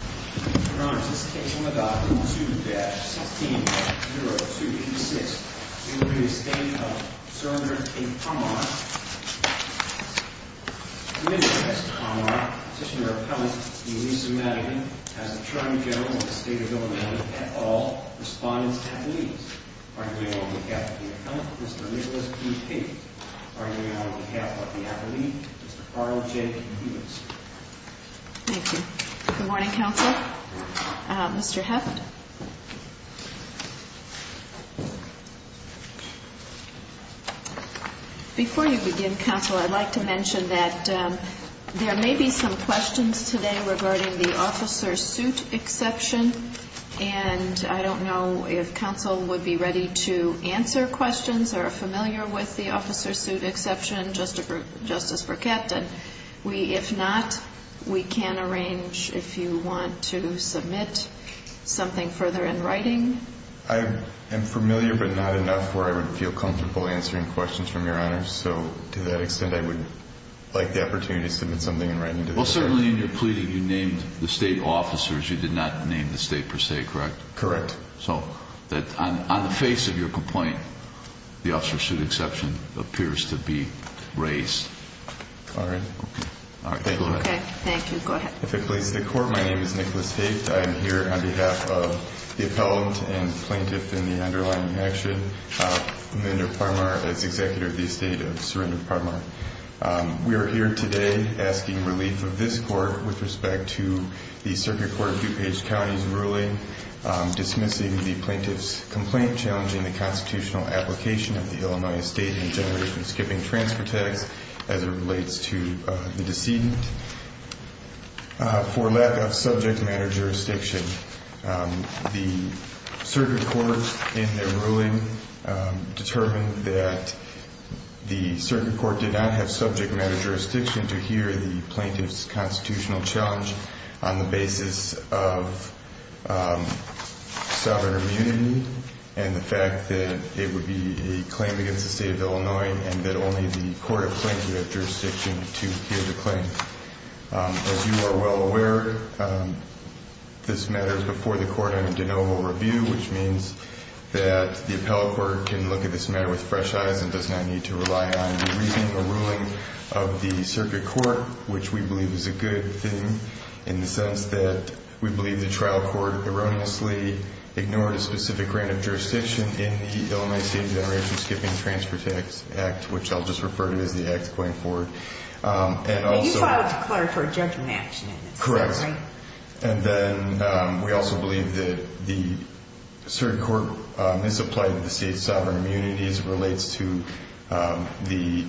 This case on the document 2-16-0256 In re Estate of Sergeant A. Parmar In re Estate of Parmar, Petitioner Appellant D. Lisa Madigan As Attorney General of the State of Illinois, at all respondents have leaves Arguing on behalf of the Appellant, Mr. Nicholas P. Pate Arguing on behalf of the Appellant, Mr. Carl J. Kiewitz Thank you. Good morning, Counsel. Mr. Hefft Before you begin, Counsel, I'd like to mention that There may be some questions today regarding the Officer Suit Exception And I don't know if Counsel would be ready to answer questions Or familiar with the Officer Suit Exception, Justice Burkett We, if not, we can arrange if you want to submit something further in writing I am familiar but not enough where I would feel comfortable answering questions from Your Honor So, to that extent, I would like the opportunity to submit something in writing Well, certainly in your pleading, you named the State Officers You did not name the State per se, correct? Correct So, on the face of your complaint, the Officer Suit Exception appears to be raised All right. Thank you, Your Honor Okay. Thank you. Go ahead If it pleases the Court, my name is Nicholas Hefft I am here on behalf of the Appellant and Plaintiff in the underlying action Mildred Parmar, as Executive of the Estate of Mildred Parmar We are here today asking relief of this Court With respect to the Circuit Court of DuPage County's ruling Dismissing the Plaintiff's complaint Challenging the Constitutional Application of the Illinois Estate And generating and skipping transfer tax as it relates to the decedent For lack of subject matter jurisdiction The Circuit Court, in their ruling Determined that the Circuit Court did not have subject matter jurisdiction To hear the Plaintiff's constitutional challenge On the basis of sovereign immunity And the fact that it would be a claim against the State of Illinois And that only the Court of Claims would have jurisdiction to hear the claim As you are well aware, this matter is before the Court on a de novo review Which means that the Appellate Court can look at this matter with fresh eyes And does not need to rely on the reasoning or ruling of the Circuit Court Which we believe is a good thing In the sense that we believe the Trial Court erroneously ignored a specific grant of jurisdiction In the Illinois Estate Generation Skipping Transfer Tax Act Which I'll just refer to as the Act going forward You filed a declaratory judgment action in this case, right? Correct And then we also believe that the Circuit Court misapplied the State's sovereign immunity As it relates to the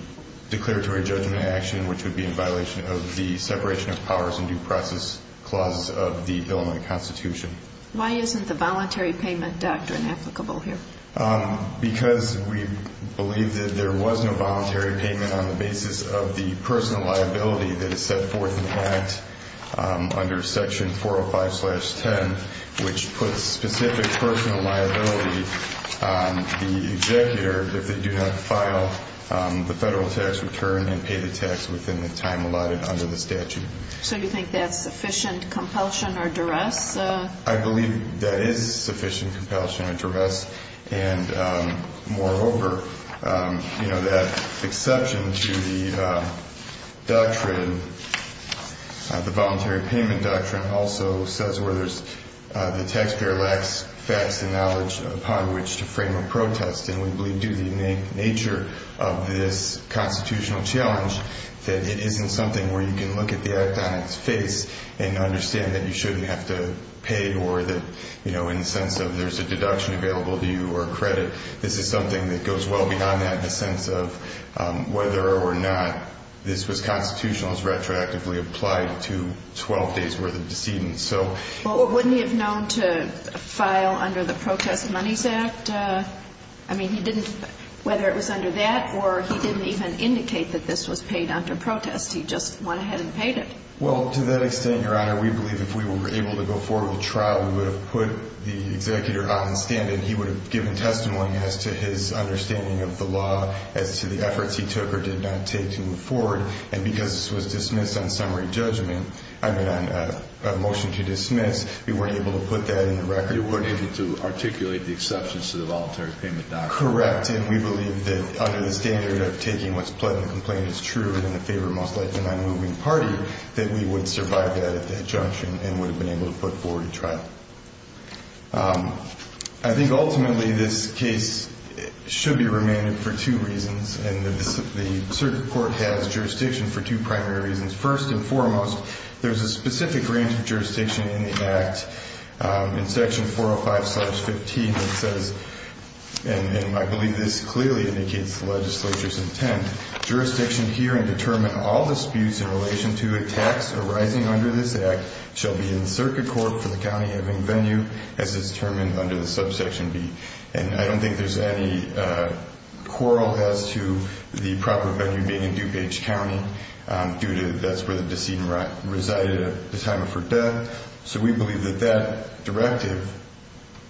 declaratory judgment action Which would be in violation of the separation of powers and due process clauses of the Illinois Constitution Why isn't the voluntary payment doctrine applicable here? Because we believe that there was no voluntary payment On the basis of the personal liability that is set forth in the Act Under Section 405-10 Which puts specific personal liability on the executor If they do not file the federal tax return and pay the tax within the time allotted under the statute So you think that's sufficient compulsion or duress? I believe that is sufficient compulsion or duress And moreover, that exception to the doctrine The voluntary payment doctrine Also says where the taxpayer lacks facts and knowledge upon which to frame a protest And we believe due to the nature of this constitutional challenge That it isn't something where you can look at the Act on its face And understand that you shouldn't have to pay Or that, you know, in the sense of there's a deduction available to you or a credit This is something that goes well beyond that In the sense of whether or not this was constitutional Is retroactively applied to 12 days' worth of decedent Well, wouldn't he have known to file under the Protest Monies Act? I mean, he didn't, whether it was under that Or he didn't even indicate that this was paid under protest He just went ahead and paid it Well, to that extent, Your Honor, we believe if we were able to go forward with trial We would have put the executor out in standing He would have given testimony as to his understanding of the law As to the efforts he took or did not take to move forward And because this was dismissed on summary judgment I mean, on a motion to dismiss We weren't able to put that in the record You weren't able to articulate the exceptions to the Voluntary Payment Doctrine Correct, and we believe that under the standard of taking what's pled in the complaint is true And in the favor of most likely an unmoving party That we would survive that at that junction And would have been able to put forward a trial I think ultimately this case should be remanded for two reasons And the circuit court has jurisdiction for two primary reasons First and foremost, there's a specific range of jurisdiction in the act In section 405-15 that says And I believe this clearly indicates the legislature's intent Jurisdiction here and determine all disputes in relation to attacks arising under this act Shall be in the circuit court for the county having venue As it's determined under the subsection B And I don't think there's any quarrel as to the proper venue being in DuPage County Due to that's where the decedent resided at the time of her death So we believe that that directive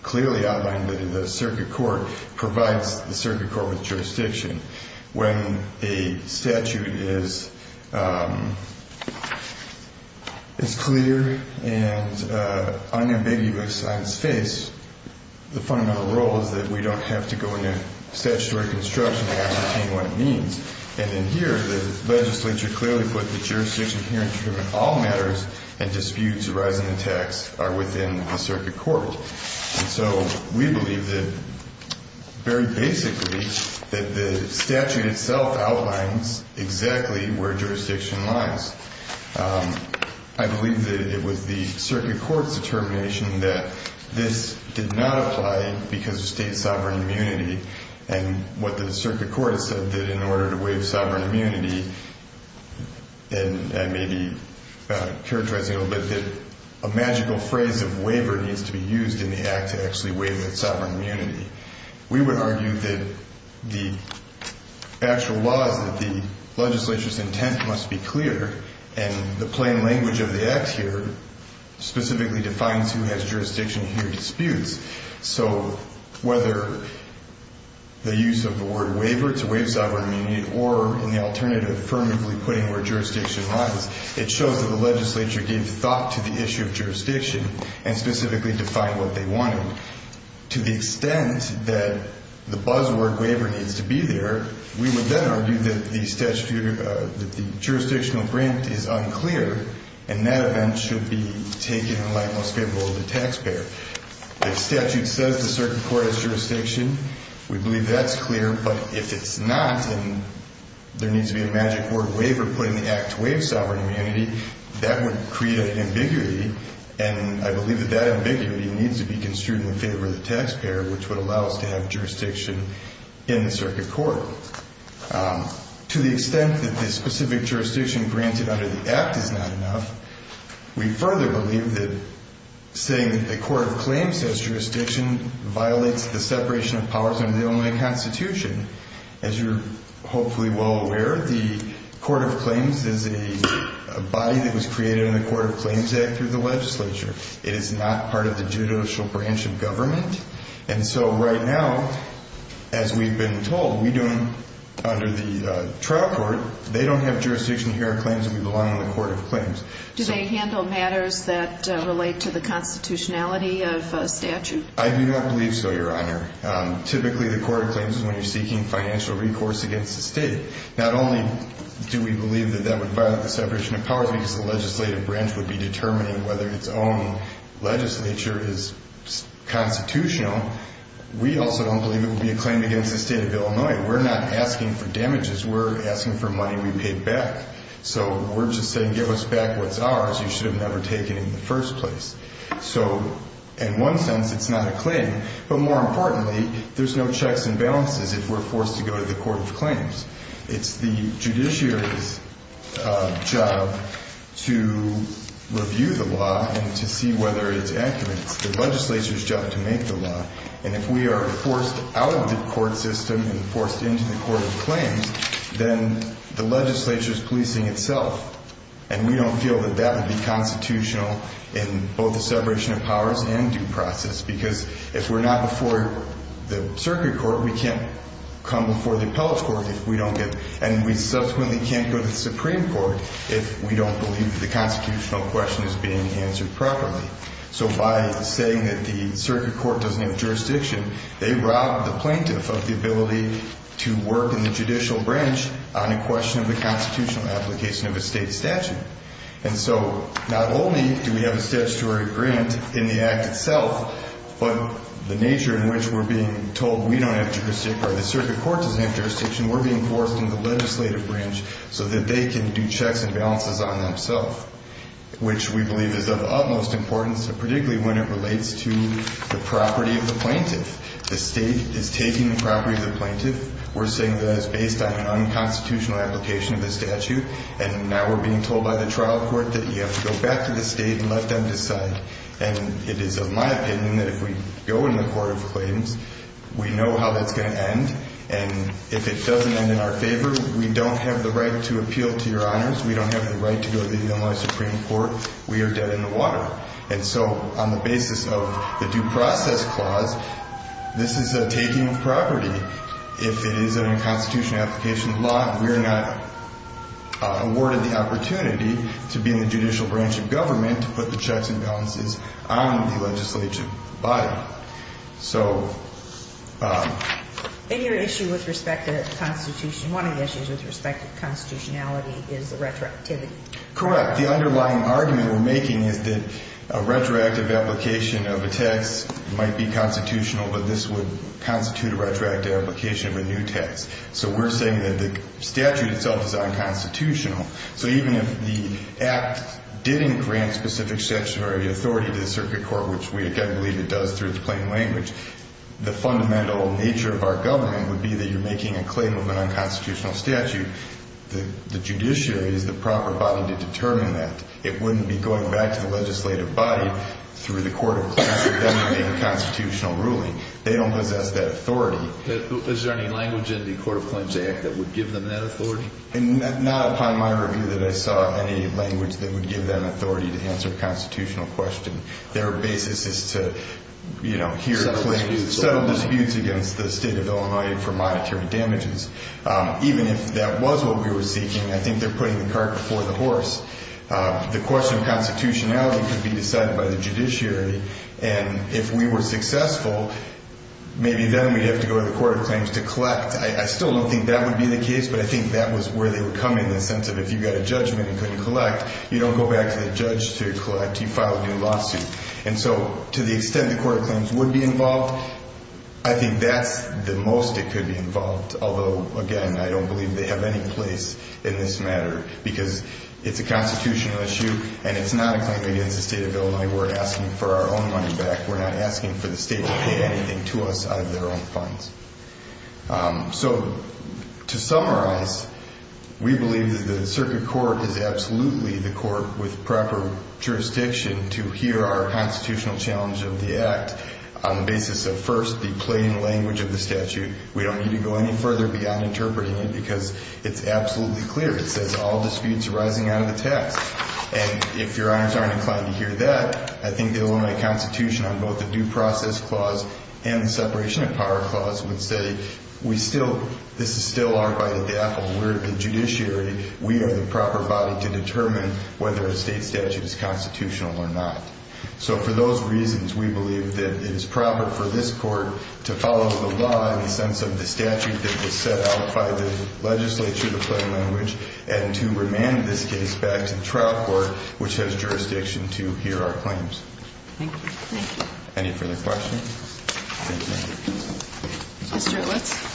clearly outlined in the circuit court Provides the circuit court with jurisdiction When a statute is clear and unambiguous on its face The fundamental role is that we don't have to go into statutory construction to ascertain what it means And in here, the legislature clearly put the jurisdiction here And determine all matters and disputes arising in tax are within the circuit court And so we believe that very basically That the statute itself outlines exactly where jurisdiction lies I believe that it was the circuit court's determination That this did not apply because of state sovereign immunity And what the circuit court said that in order to waive sovereign immunity And maybe characterizing a little bit That a magical phrase of waiver needs to be used in the act To actually waive that sovereign immunity We would argue that the actual laws That the legislature's intent must be clear And the plain language of the act here Specifically defines who has jurisdiction here and disputes So whether the use of the word waiver to waive sovereign immunity Or in the alternative, affirmatively putting where jurisdiction lies It shows that the legislature gave thought to the issue of jurisdiction And specifically defined what they wanted To the extent that the buzzword waiver needs to be there We would then argue that the jurisdictional grant is unclear And that event should be taken in light most favorable of the taxpayer If statute says the circuit court has jurisdiction We believe that's clear But if it's not and there needs to be a magic word waiver Put in the act to waive sovereign immunity That would create an ambiguity And I believe that that ambiguity needs to be construed in favor of the taxpayer Which would allow us to have jurisdiction in the circuit court To the extent that the specific jurisdiction granted under the act is not enough We further believe that saying the court of claims has jurisdiction Violates the separation of powers under the Illinois Constitution As you're hopefully well aware The court of claims is a body that was created in the court of claims act through the legislature It is not part of the judicial branch of government And so right now, as we've been told We don't, under the trial court They don't have jurisdiction here Do they handle matters that relate to the constitutionality of a statute? I do not believe so, your honor Typically the court of claims is when you're seeking financial recourse against the state Not only do we believe that that would violate the separation of powers Because the legislative branch would be determining whether its own legislature is constitutional We also don't believe it would be a claim against the state of Illinois We're not asking for damages We're asking for money we pay back So we're just saying give us back what's ours You should have never taken it in the first place So in one sense it's not a claim But more importantly, there's no checks and balances if we're forced to go to the court of claims It's the judiciary's job to review the law And to see whether it's accurate It's the legislature's job to make the law And if we are forced out of the court system And forced into the court of claims Then the legislature's policing itself And we don't feel that that would be constitutional In both the separation of powers and due process Because if we're not before the circuit court We can't come before the appellate court if we don't get And we subsequently can't go to the supreme court If we don't believe the constitutional question is being answered properly So by saying that the circuit court doesn't have jurisdiction They rob the plaintiff of the ability to work in the judicial branch On a question of the constitutional application of a state statute And so not only do we have a statutory agreement in the act itself But the nature in which we're being told we don't have jurisdiction Or the circuit court doesn't have jurisdiction We're being forced into the legislative branch So that they can do checks and balances on themselves Which we believe is of utmost importance Particularly when it relates to the property of the plaintiff The state is taking the property of the plaintiff We're saying that it's based on an unconstitutional application of the statute And now we're being told by the trial court That you have to go back to the state and let them decide And it is of my opinion that if we go in the court of claims We know how that's going to end And if it doesn't end in our favor We don't have the right to appeal to your honors We don't have the right to go to the Illinois supreme court We are dead in the water And so on the basis of the due process clause This is a taking of property If it is an unconstitutional application of law We're not awarded the opportunity to be in the judicial branch of government To put the checks and balances on the legislative body So... In your issue with respect to the constitution One of the issues with respect to constitutionality is the retroactivity Correct The underlying argument we're making is that A retroactive application of a text might be constitutional But this would constitute a retroactive application of a new text So we're saying that the statute itself is unconstitutional So even if the act didn't grant specific statutory authority to the circuit court Which we again believe it does through its plain language The fundamental nature of our government would be That you're making a claim of an unconstitutional statute The judiciary is the proper body to determine that It wouldn't be going back to the legislative body Through the court of claims for them to make a constitutional ruling They don't possess that authority Is there any language in the court of claims act that would give them that authority? Not upon my review that I saw any language that would give them authority To answer a constitutional question Their basis is to hear claims Settle disputes against the state of Illinois for monetary damages Even if that was what we were seeking I think they're putting the cart before the horse The question of constitutionality could be decided by the judiciary And if we were successful Maybe then we'd have to go to the court of claims to collect I still don't think that would be the case But I think that was where they were coming in the sense of If you got a judgment and couldn't collect You don't go back to the judge to collect You file a new lawsuit And so to the extent the court of claims would be involved I think that's the most it could be involved Although again I don't believe they have any place in this matter Because it's a constitutional issue And it's not a claim against the state of Illinois We're asking for our own money back We're not asking for the state to pay anything to us out of their own funds So to summarize We believe that the circuit court is absolutely the court with proper jurisdiction To hear our constitutional challenge of the act On the basis of first the plain language of the statute We don't need to go any further beyond interpreting it Because it's absolutely clear It says all disputes arising out of the text And if your honors aren't inclined to hear that I think the Illinois constitution on both the due process clause And the separation of power clause would say This is still our right at the apple We're the judiciary We are the proper body to determine Whether a state statute is constitutional or not So for those reasons we believe that it is proper for this court To follow the law in the sense of the statute That was set out by the legislature The plain language And to remand this case back to the trial court Which has jurisdiction to hear our claims Thank you Any further questions? Thank you Mr. Ilitz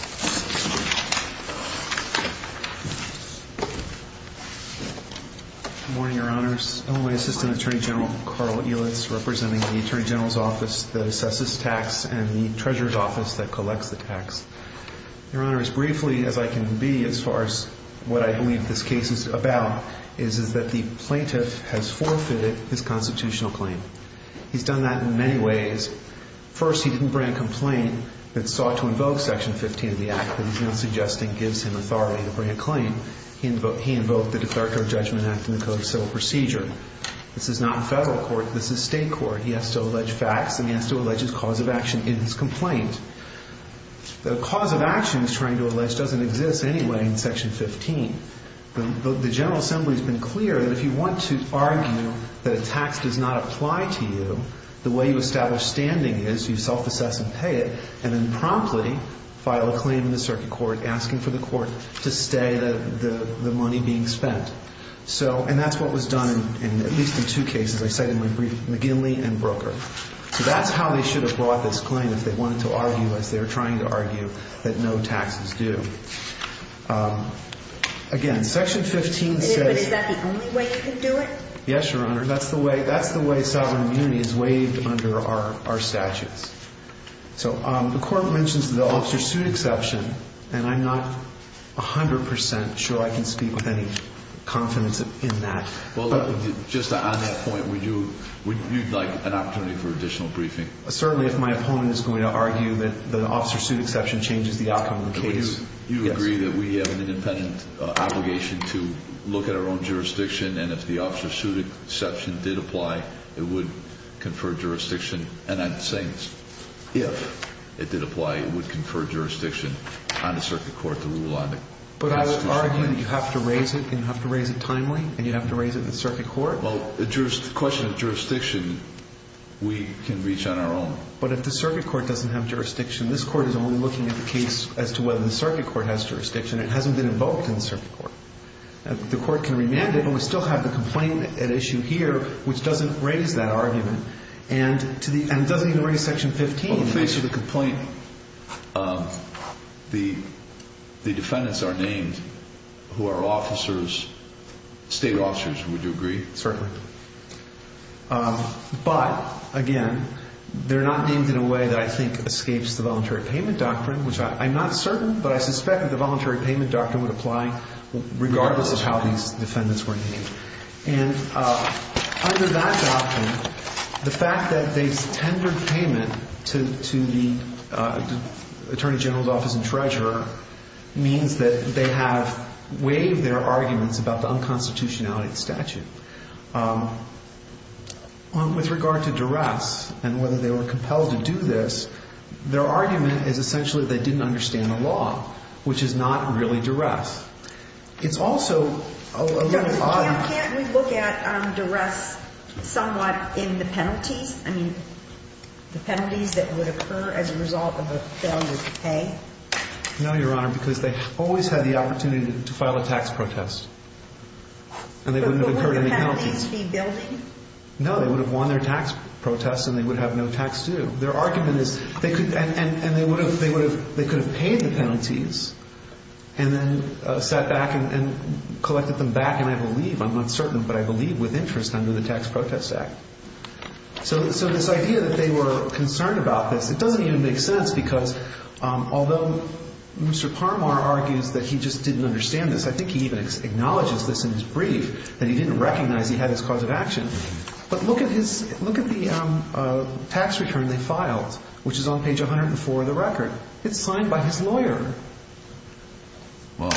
Good morning your honors Illinois assistant attorney general Carl Ilitz Representing the attorney general's office That assesses tax And the treasurer's office that collects the tax Your honors Briefly as I can be As far as what I believe this case is about Is that the plaintiff has forfeited his constitutional claim He's done that in many ways First he didn't bring a complaint That sought to invoke section 15 of the act That he's now suggesting gives him authority to bring a claim He invoked the declaratory judgment act And the code of civil procedure This is not federal court This is state court He has to allege facts And he has to allege his cause of action in his complaint The cause of action he's trying to allege Doesn't exist anyway in section 15 The general assembly has been clear That if you want to argue that a tax does not apply to you The way you establish standing is You self-assess and pay it And then promptly file a claim in the circuit court Asking for the court to stay the money being spent So and that's what was done At least in two cases As I said in my brief McGinley and broker So that's how they should have brought this claim If they wanted to argue As they were trying to argue that no taxes do Again section 15 says Is that the only way you can do it Yes your honor That's the way that's the way Sovereign immunity is waived under our statutes So the court mentions the officer's suit exception And I'm not a hundred percent sure I can speak with any confidence in that Well just on that point Would you like an opportunity for additional briefing Certainly if my opponent is going to argue That the officer's suit exception changes the outcome of the case You agree that we have an independent obligation To look at our own jurisdiction And if the officer's suit exception did apply It would confer jurisdiction And I'm saying this If it did apply it would confer jurisdiction On the circuit court to rule on it But I would argue that you have to raise it And you have to raise it timely And you have to raise it in the circuit court Well the question of jurisdiction We can reach on our own But if the circuit court doesn't have jurisdiction This court is only looking at the case As to whether the circuit court has jurisdiction It hasn't been invoked in the circuit court The court can remand it And we still have the complaint at issue here Which doesn't raise that argument And doesn't even raise section 15 Well in the face of the complaint The defendants are named Who are officers State officers would you agree? Certainly But again They're not named in a way that I think Escapes the voluntary payment doctrine Which I'm not certain But I suspect that the voluntary payment doctrine would apply Regardless of how these defendants were named And under that doctrine The fact that they've tendered payment To the attorney general's office and treasurer Means that they have waived their arguments About the unconstitutionality of the statute With regard to duress And whether they were compelled to do this Their argument is essentially They didn't understand the law Which is not really duress It's also Can't we look at duress somewhat in the penalties? I mean The penalties that would occur As a result of a failure to pay? No your honor Because they always had the opportunity To file a tax protest And they wouldn't have incurred any penalties But wouldn't the penalties be building? No they would have won their tax protest And they would have no tax due Their argument is And they could have paid the penalties And then sat back And collected them back And I believe I'm not certain But I believe with interest Under the tax protest act So this idea that they were concerned about this It doesn't even make sense Because although Mr. Parmar argues That he just didn't understand this I think he even acknowledges this in his brief That he didn't recognize he had his cause of action But look at his Look at the tax return they filed Which is on page 104 of the record It's signed by his lawyer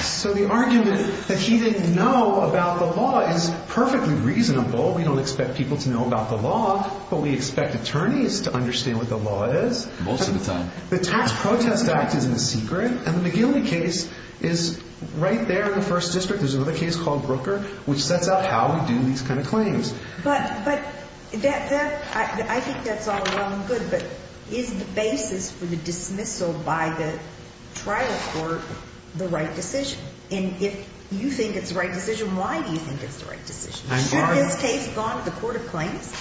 So the argument that he didn't know about the law Is perfectly reasonable We don't expect people to know about the law But we expect attorneys to understand what the law is Most of the time The tax protest act isn't a secret And the McGilley case is right there in the first district There's another case called Brooker Which sets out how we do these kind of claims But I think that's all well and good But is the basis for the dismissal by the trial court The right decision? And if you think it's the right decision Why do you think it's the right decision? Should this case have gone to the court of claims?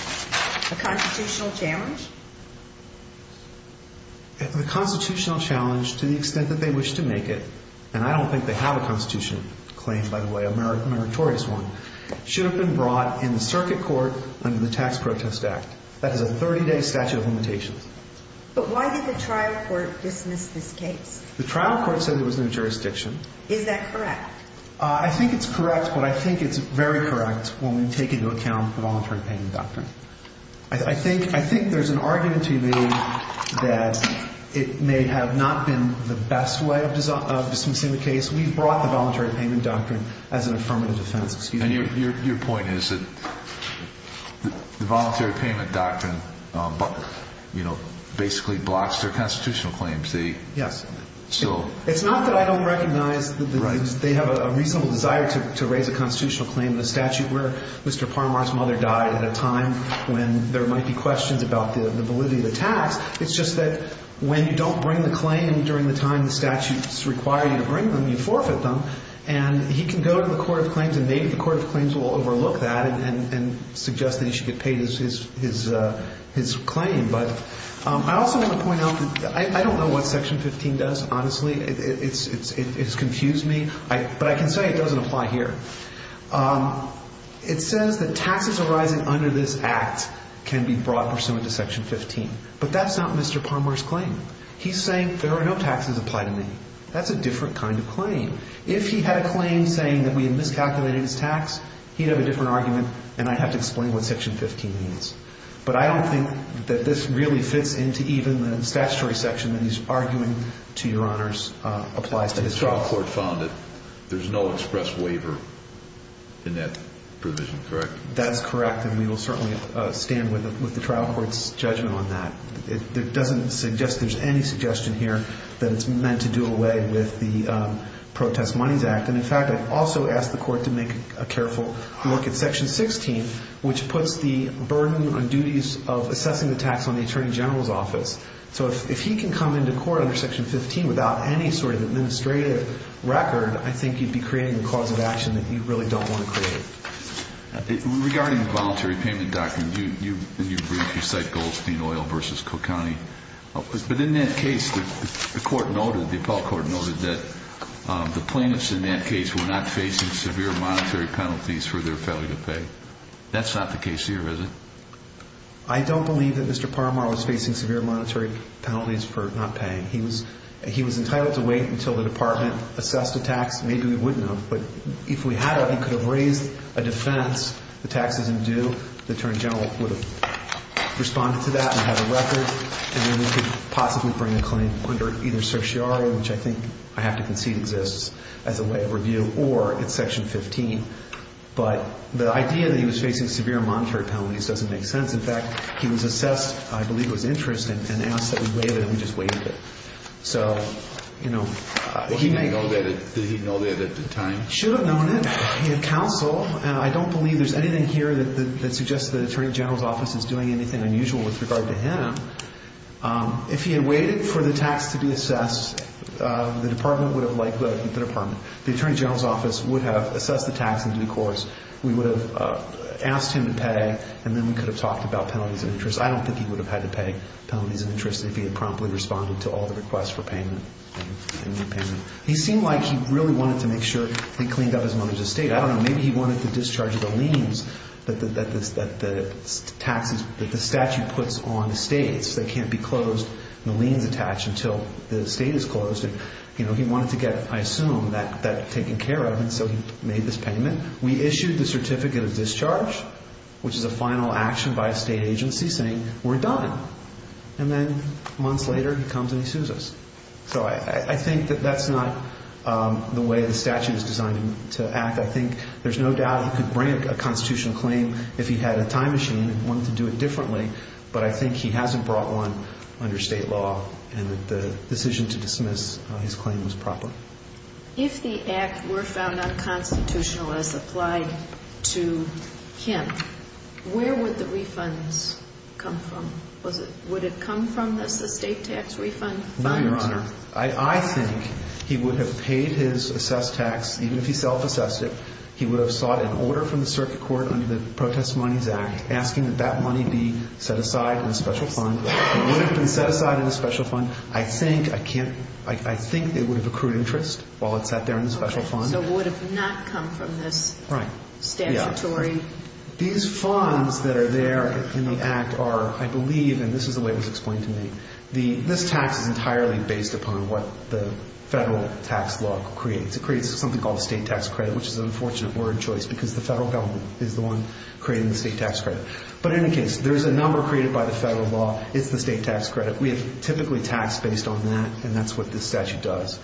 A constitutional challenge? The constitutional challenge To the extent that they wish to make it And I don't think they have a constitutional claim by the way A meritorious one Should have been brought in the circuit court Under the tax protest act That is a 30 day statute of limitations But why did the trial court dismiss this case? The trial court said there was no jurisdiction Is that correct? I think it's correct But I think it's very correct When we take into account the voluntary payment doctrine I think there's an argument to be made That it may have not been the best way of dismissing the case We've brought the voluntary payment doctrine As an affirmative defense And your point is that The voluntary payment doctrine Basically blocks their constitutional claims Yes It's not that I don't recognize They have a reasonable desire to raise a constitutional claim In a statute where Mr. Parmar's mother died At a time when there might be questions About the validity of the tax It's just that when you don't bring the claim During the time the statutes require you to bring them You forfeit them And he can go to the court of claims And maybe the court of claims will overlook that And suggest that he should get paid his claim But I also want to point out I don't know what section 15 does honestly It's confused me But I can say it doesn't apply here It says that taxes arising under this act Can be brought pursuant to section 15 But that's not Mr. Parmar's claim He's saying there are no taxes applied to me That's a different kind of claim If he had a claim saying that we had miscalculated his tax He'd have a different argument And I'd have to explain what section 15 means But I don't think that this really fits Into even the statutory section And he's arguing to your honors It applies to his trial The trial court found that there's no express waiver In that provision, correct? That's correct And we will certainly stand with the trial court's judgment on that It doesn't suggest There's any suggestion here That it's meant to do away with the Protest Monies Act And in fact I've also asked the court To make a careful look at section 16 Which puts the burden on duties Of assessing the tax on the Attorney General's office So if he can come into court under section 15 Without any sort of administrative record I think you'd be creating a cause of action That you really don't want to create Regarding the voluntary payment document In your brief you cite Goldstein Oil versus Cook County But in that case the court noted The appellate court noted that The plaintiffs in that case Were not facing severe monetary penalties For their failure to pay That's not the case here, is it? I don't believe that Mr. Paramar Was facing severe monetary penalties For not paying He was entitled to wait Until the department assessed a tax Maybe we wouldn't have But if we had of He could have raised a defense The tax is in due The Attorney General would have Responded to that And had a record And then we could possibly bring a claim Under either certiorari Which I think I have to concede exists As a way of review Or it's section 15 But the idea that he was facing Severe monetary penalties Doesn't make sense In fact, he was assessed I believe it was interest And asked that we wait it And we just waited it So, you know Did he know that at the time? Should have known it He had counsel And I don't believe There's anything here That suggests the Attorney General's office Is doing anything unusual With regard to him If he had waited for the tax to be assessed The department would have Like the department The Attorney General's office Would have assessed the tax In due course We would have asked him to pay And then we could have talked About penalties and interest I don't think he would have had to pay Penalties and interest If he had promptly responded To all the requests for payment He seemed like he really wanted to make sure He cleaned up his money's estate I don't know Maybe he wanted to discharge the liens That the statute puts on estates That can't be closed And the liens attach Until the estate is closed He wanted to get, I assume That taken care of And so he made this payment And then we issued The certificate of discharge Which is a final action By a state agency Saying we're done And then months later He comes and he sues us So I think that that's not The way the statute is designed to act I think there's no doubt He could bring a constitutional claim If he had a time machine And wanted to do it differently But I think he hasn't brought one Under state law And that the decision to dismiss His claim was proper If the act were found unconstitutional As applied to him Where would the refunds come from? Would it come from the estate tax refund? No, Your Honor I think he would have paid his assessed tax Even if he self-assessed it He would have sought an order From the circuit court Under the Protest Monies Act Asking that that money be Set aside in a special fund It would have been set aside in a special fund I think, I can't I think it would have accrued interest While it sat there in the special fund So it would have not come from this statutory These funds that are there in the act Are, I believe And this is the way it was explained to me This tax is entirely based upon What the federal tax law creates It creates something called State tax credit Which is an unfortunate word choice Because the federal government Is the one creating the state tax credit But in any case There is a number created by the federal law It's the state tax credit We have typically taxed based on that And that's what this statute does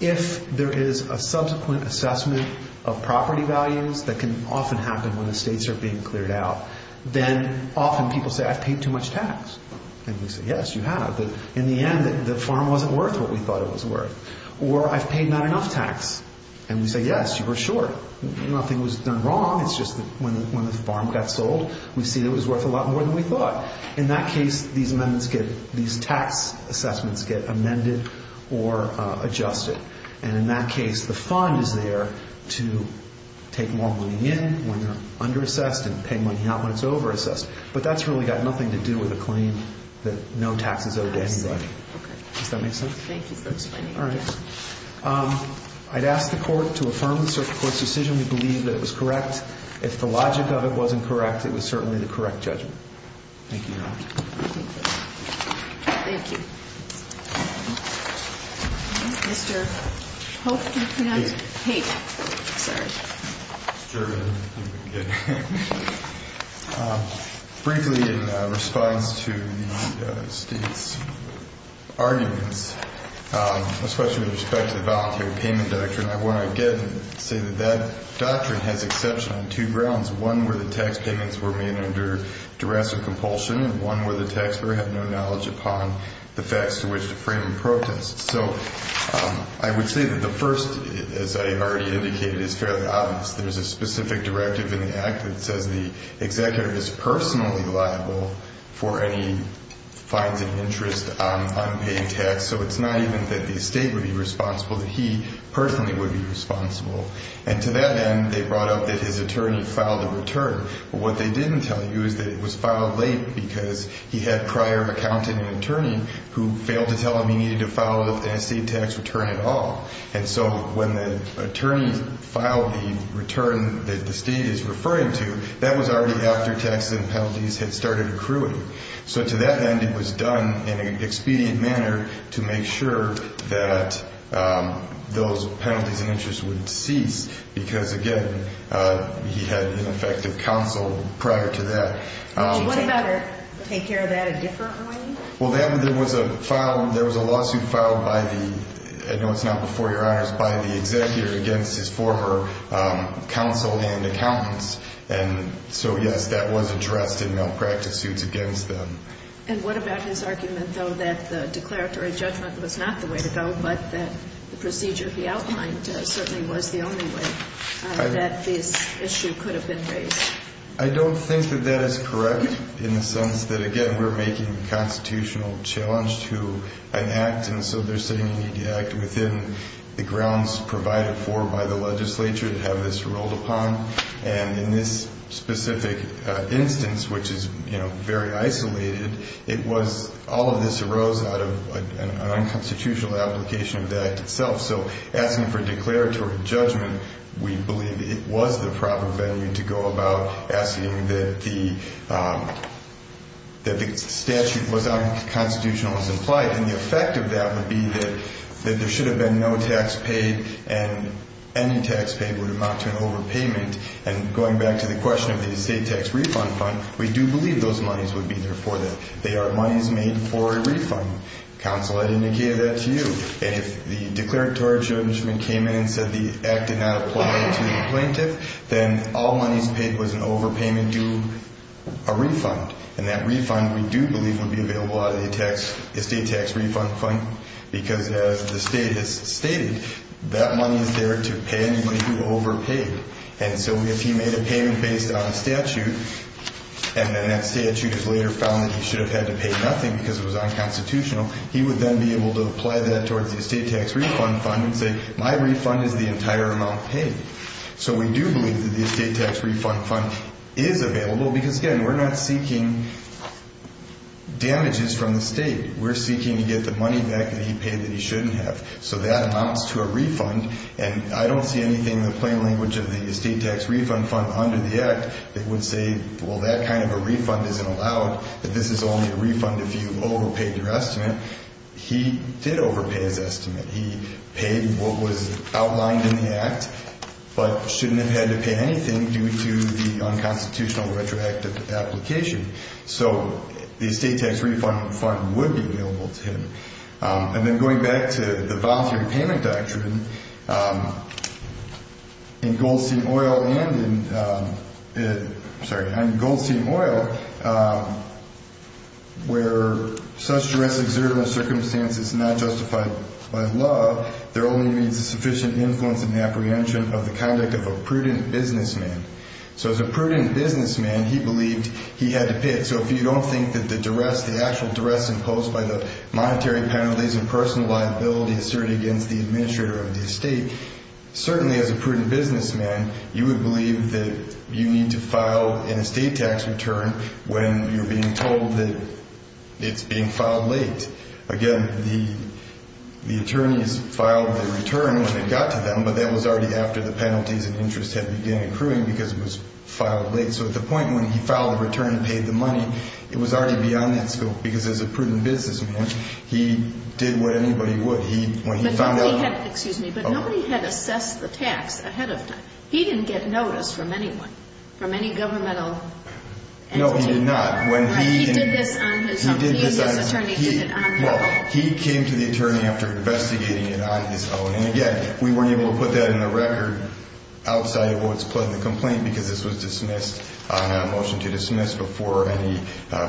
If there is a subsequent assessment Of property values That can often happen When the states are being cleared out Then often people say I've paid too much tax And we say yes, you have But in the end The farm wasn't worth What we thought it was worth Or I've paid not enough tax And we say yes, you were short Nothing was done wrong It's just that when the farm got sold We see that it was worth A lot more than we thought In that case, these amendments These tax assessments Get amended or adjusted And in that case The fund is there To take more money in When they're underassessed And pay money out When it's overassessed But that's really got nothing to do With a claim that no tax is owed to anybody Does that make sense? Thank you for explaining that All right I'd ask the court to affirm The circuit court's decision We believe that it was correct If the logic of it wasn't correct It was certainly the correct judgment Thank you, Your Honor Thank you Mr. Hope You pronounce it Haight Haight, sorry Briefly in response to the state's arguments Especially with respect to the voluntary payment doctrine I want to again say that that doctrine Has exception on two grounds One, where the tax payments were made Under duress or compulsion And one where the taxpayer had no knowledge Upon the facts to which to frame a protest So I would say that the first As I already indicated Is fairly obvious There's a specific directive in the act That says the executive is personally liable For any fines and interest on unpaid tax So it's not even that the estate would be responsible That he personally would be responsible And to that end They brought up that his attorney filed a return But what they didn't tell you Is that it was filed late Because he had prior accountant and attorney Who failed to tell him he needed to file An estate tax return at all And so when the attorney filed the return That the state is referring to That was already after taxes and penalties Had started accruing So to that end It was done in an expedient manner To make sure that Those penalties and interest would cease Because again He had ineffective counsel prior to that Would you take care of that a different way? Well there was a lawsuit filed by the I know it's not before your honors By the executive against his former Counsel and accountants And so yes that was addressed In malpractice suits against them And what about his argument though That the declaratory judgment was not the way to go But that the procedure he outlined Certainly was the only way That this issue could have been raised I don't think that that is correct In the sense that again We're making a constitutional challenge to an act And so they're sitting in the act Within the grounds provided for by the legislature To have this ruled upon And in this specific instance Which is you know very isolated It was all of this arose out of An unconstitutional application of the act itself So asking for declaratory judgment We believe it was the proper venue To go about asking that the That the statute was unconstitutional as implied And the effect of that would be that That there should have been no tax paid And any tax paid would amount to an overpayment And going back to the question of the estate tax refund fund We do believe those monies would be there for that They are monies made for a refund Counsel I indicated that to you And if the declaratory judgment came in And said the act did not apply to the plaintiff Then all monies paid was an overpayment due a refund And that refund we do believe would be available Out of the estate tax refund fund Because as the state has stated That money is there to pay anybody who overpaid And so if he made a payment based on a statute And then that statute is later found That he should have had to pay nothing Because it was unconstitutional He would then be able to apply that Towards the estate tax refund fund And say my refund is the entire amount paid So we do believe that the estate tax refund fund Is available because again We're not seeking damages from the state We're seeking to get the money back That he paid that he shouldn't have So that amounts to a refund And I don't see anything in the plain language Of the estate tax refund fund under the act That would say well that kind of a refund isn't allowed That this is only a refund if you overpaid your estimate He did overpay his estimate He paid what was outlined in the act But shouldn't have had to pay anything Due to the unconstitutional retroactive application So the estate tax refund fund would be available to him And then going back to the voluntary payment doctrine In Goldstein Oil and in Sorry, in Goldstein Oil Where such duress exerted in a circumstance Is not justified by law There only means a sufficient influence In the apprehension of the conduct of a prudent businessman So as a prudent businessman He believed he had to pay it So if you don't think that the duress The actual duress imposed by the Monetary penalties and personal liability Asserted against the administrator of the estate Certainly as a prudent businessman You would believe that you need to file An estate tax return when you're being told That it's being filed late Again, the attorneys filed their return When it got to them But that was already after the penalties And interest had begun accruing Because it was filed late So at the point when he filed the return And paid the money It was already beyond that scope He did what anybody would He, when he found out But nobody had, excuse me He didn't get notice from anyone From any governmental entity No, he did not He did this on his own He and his attorney did it on their own He came to the attorney After investigating it on his own And again, we weren't able to put that in the record Outside of what was put in the complaint Because this was dismissed On a motion to dismiss Before any,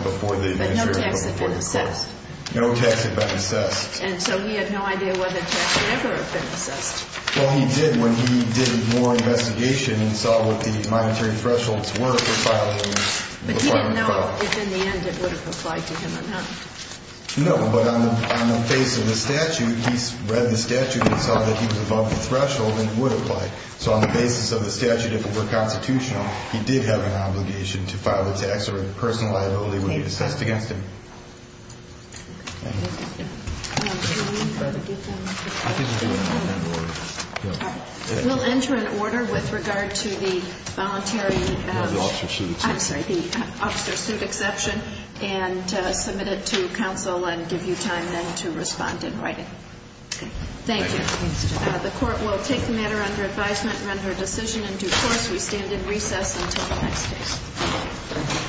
before the But no tax had been assessed No tax had been assessed And so he had no idea Whether tax would ever have been assessed Well, he did When he did more investigation And saw what the monetary thresholds were For filing a department file But he didn't know if in the end It would have applied to him or not No, but on the face of the statute He read the statute And saw that he was above the threshold And it would apply So on the basis of the statute If it were constitutional He did have an obligation To file a tax or a personal liability Would be assessed against him We'll enter an order With regard to the voluntary Officer's suit I'm sorry, the officer's suit exception And submit it to counsel And give you time then to respond in writing Thank you The court will take the matter under advisement And render a decision in due course We stand in recess Until the next case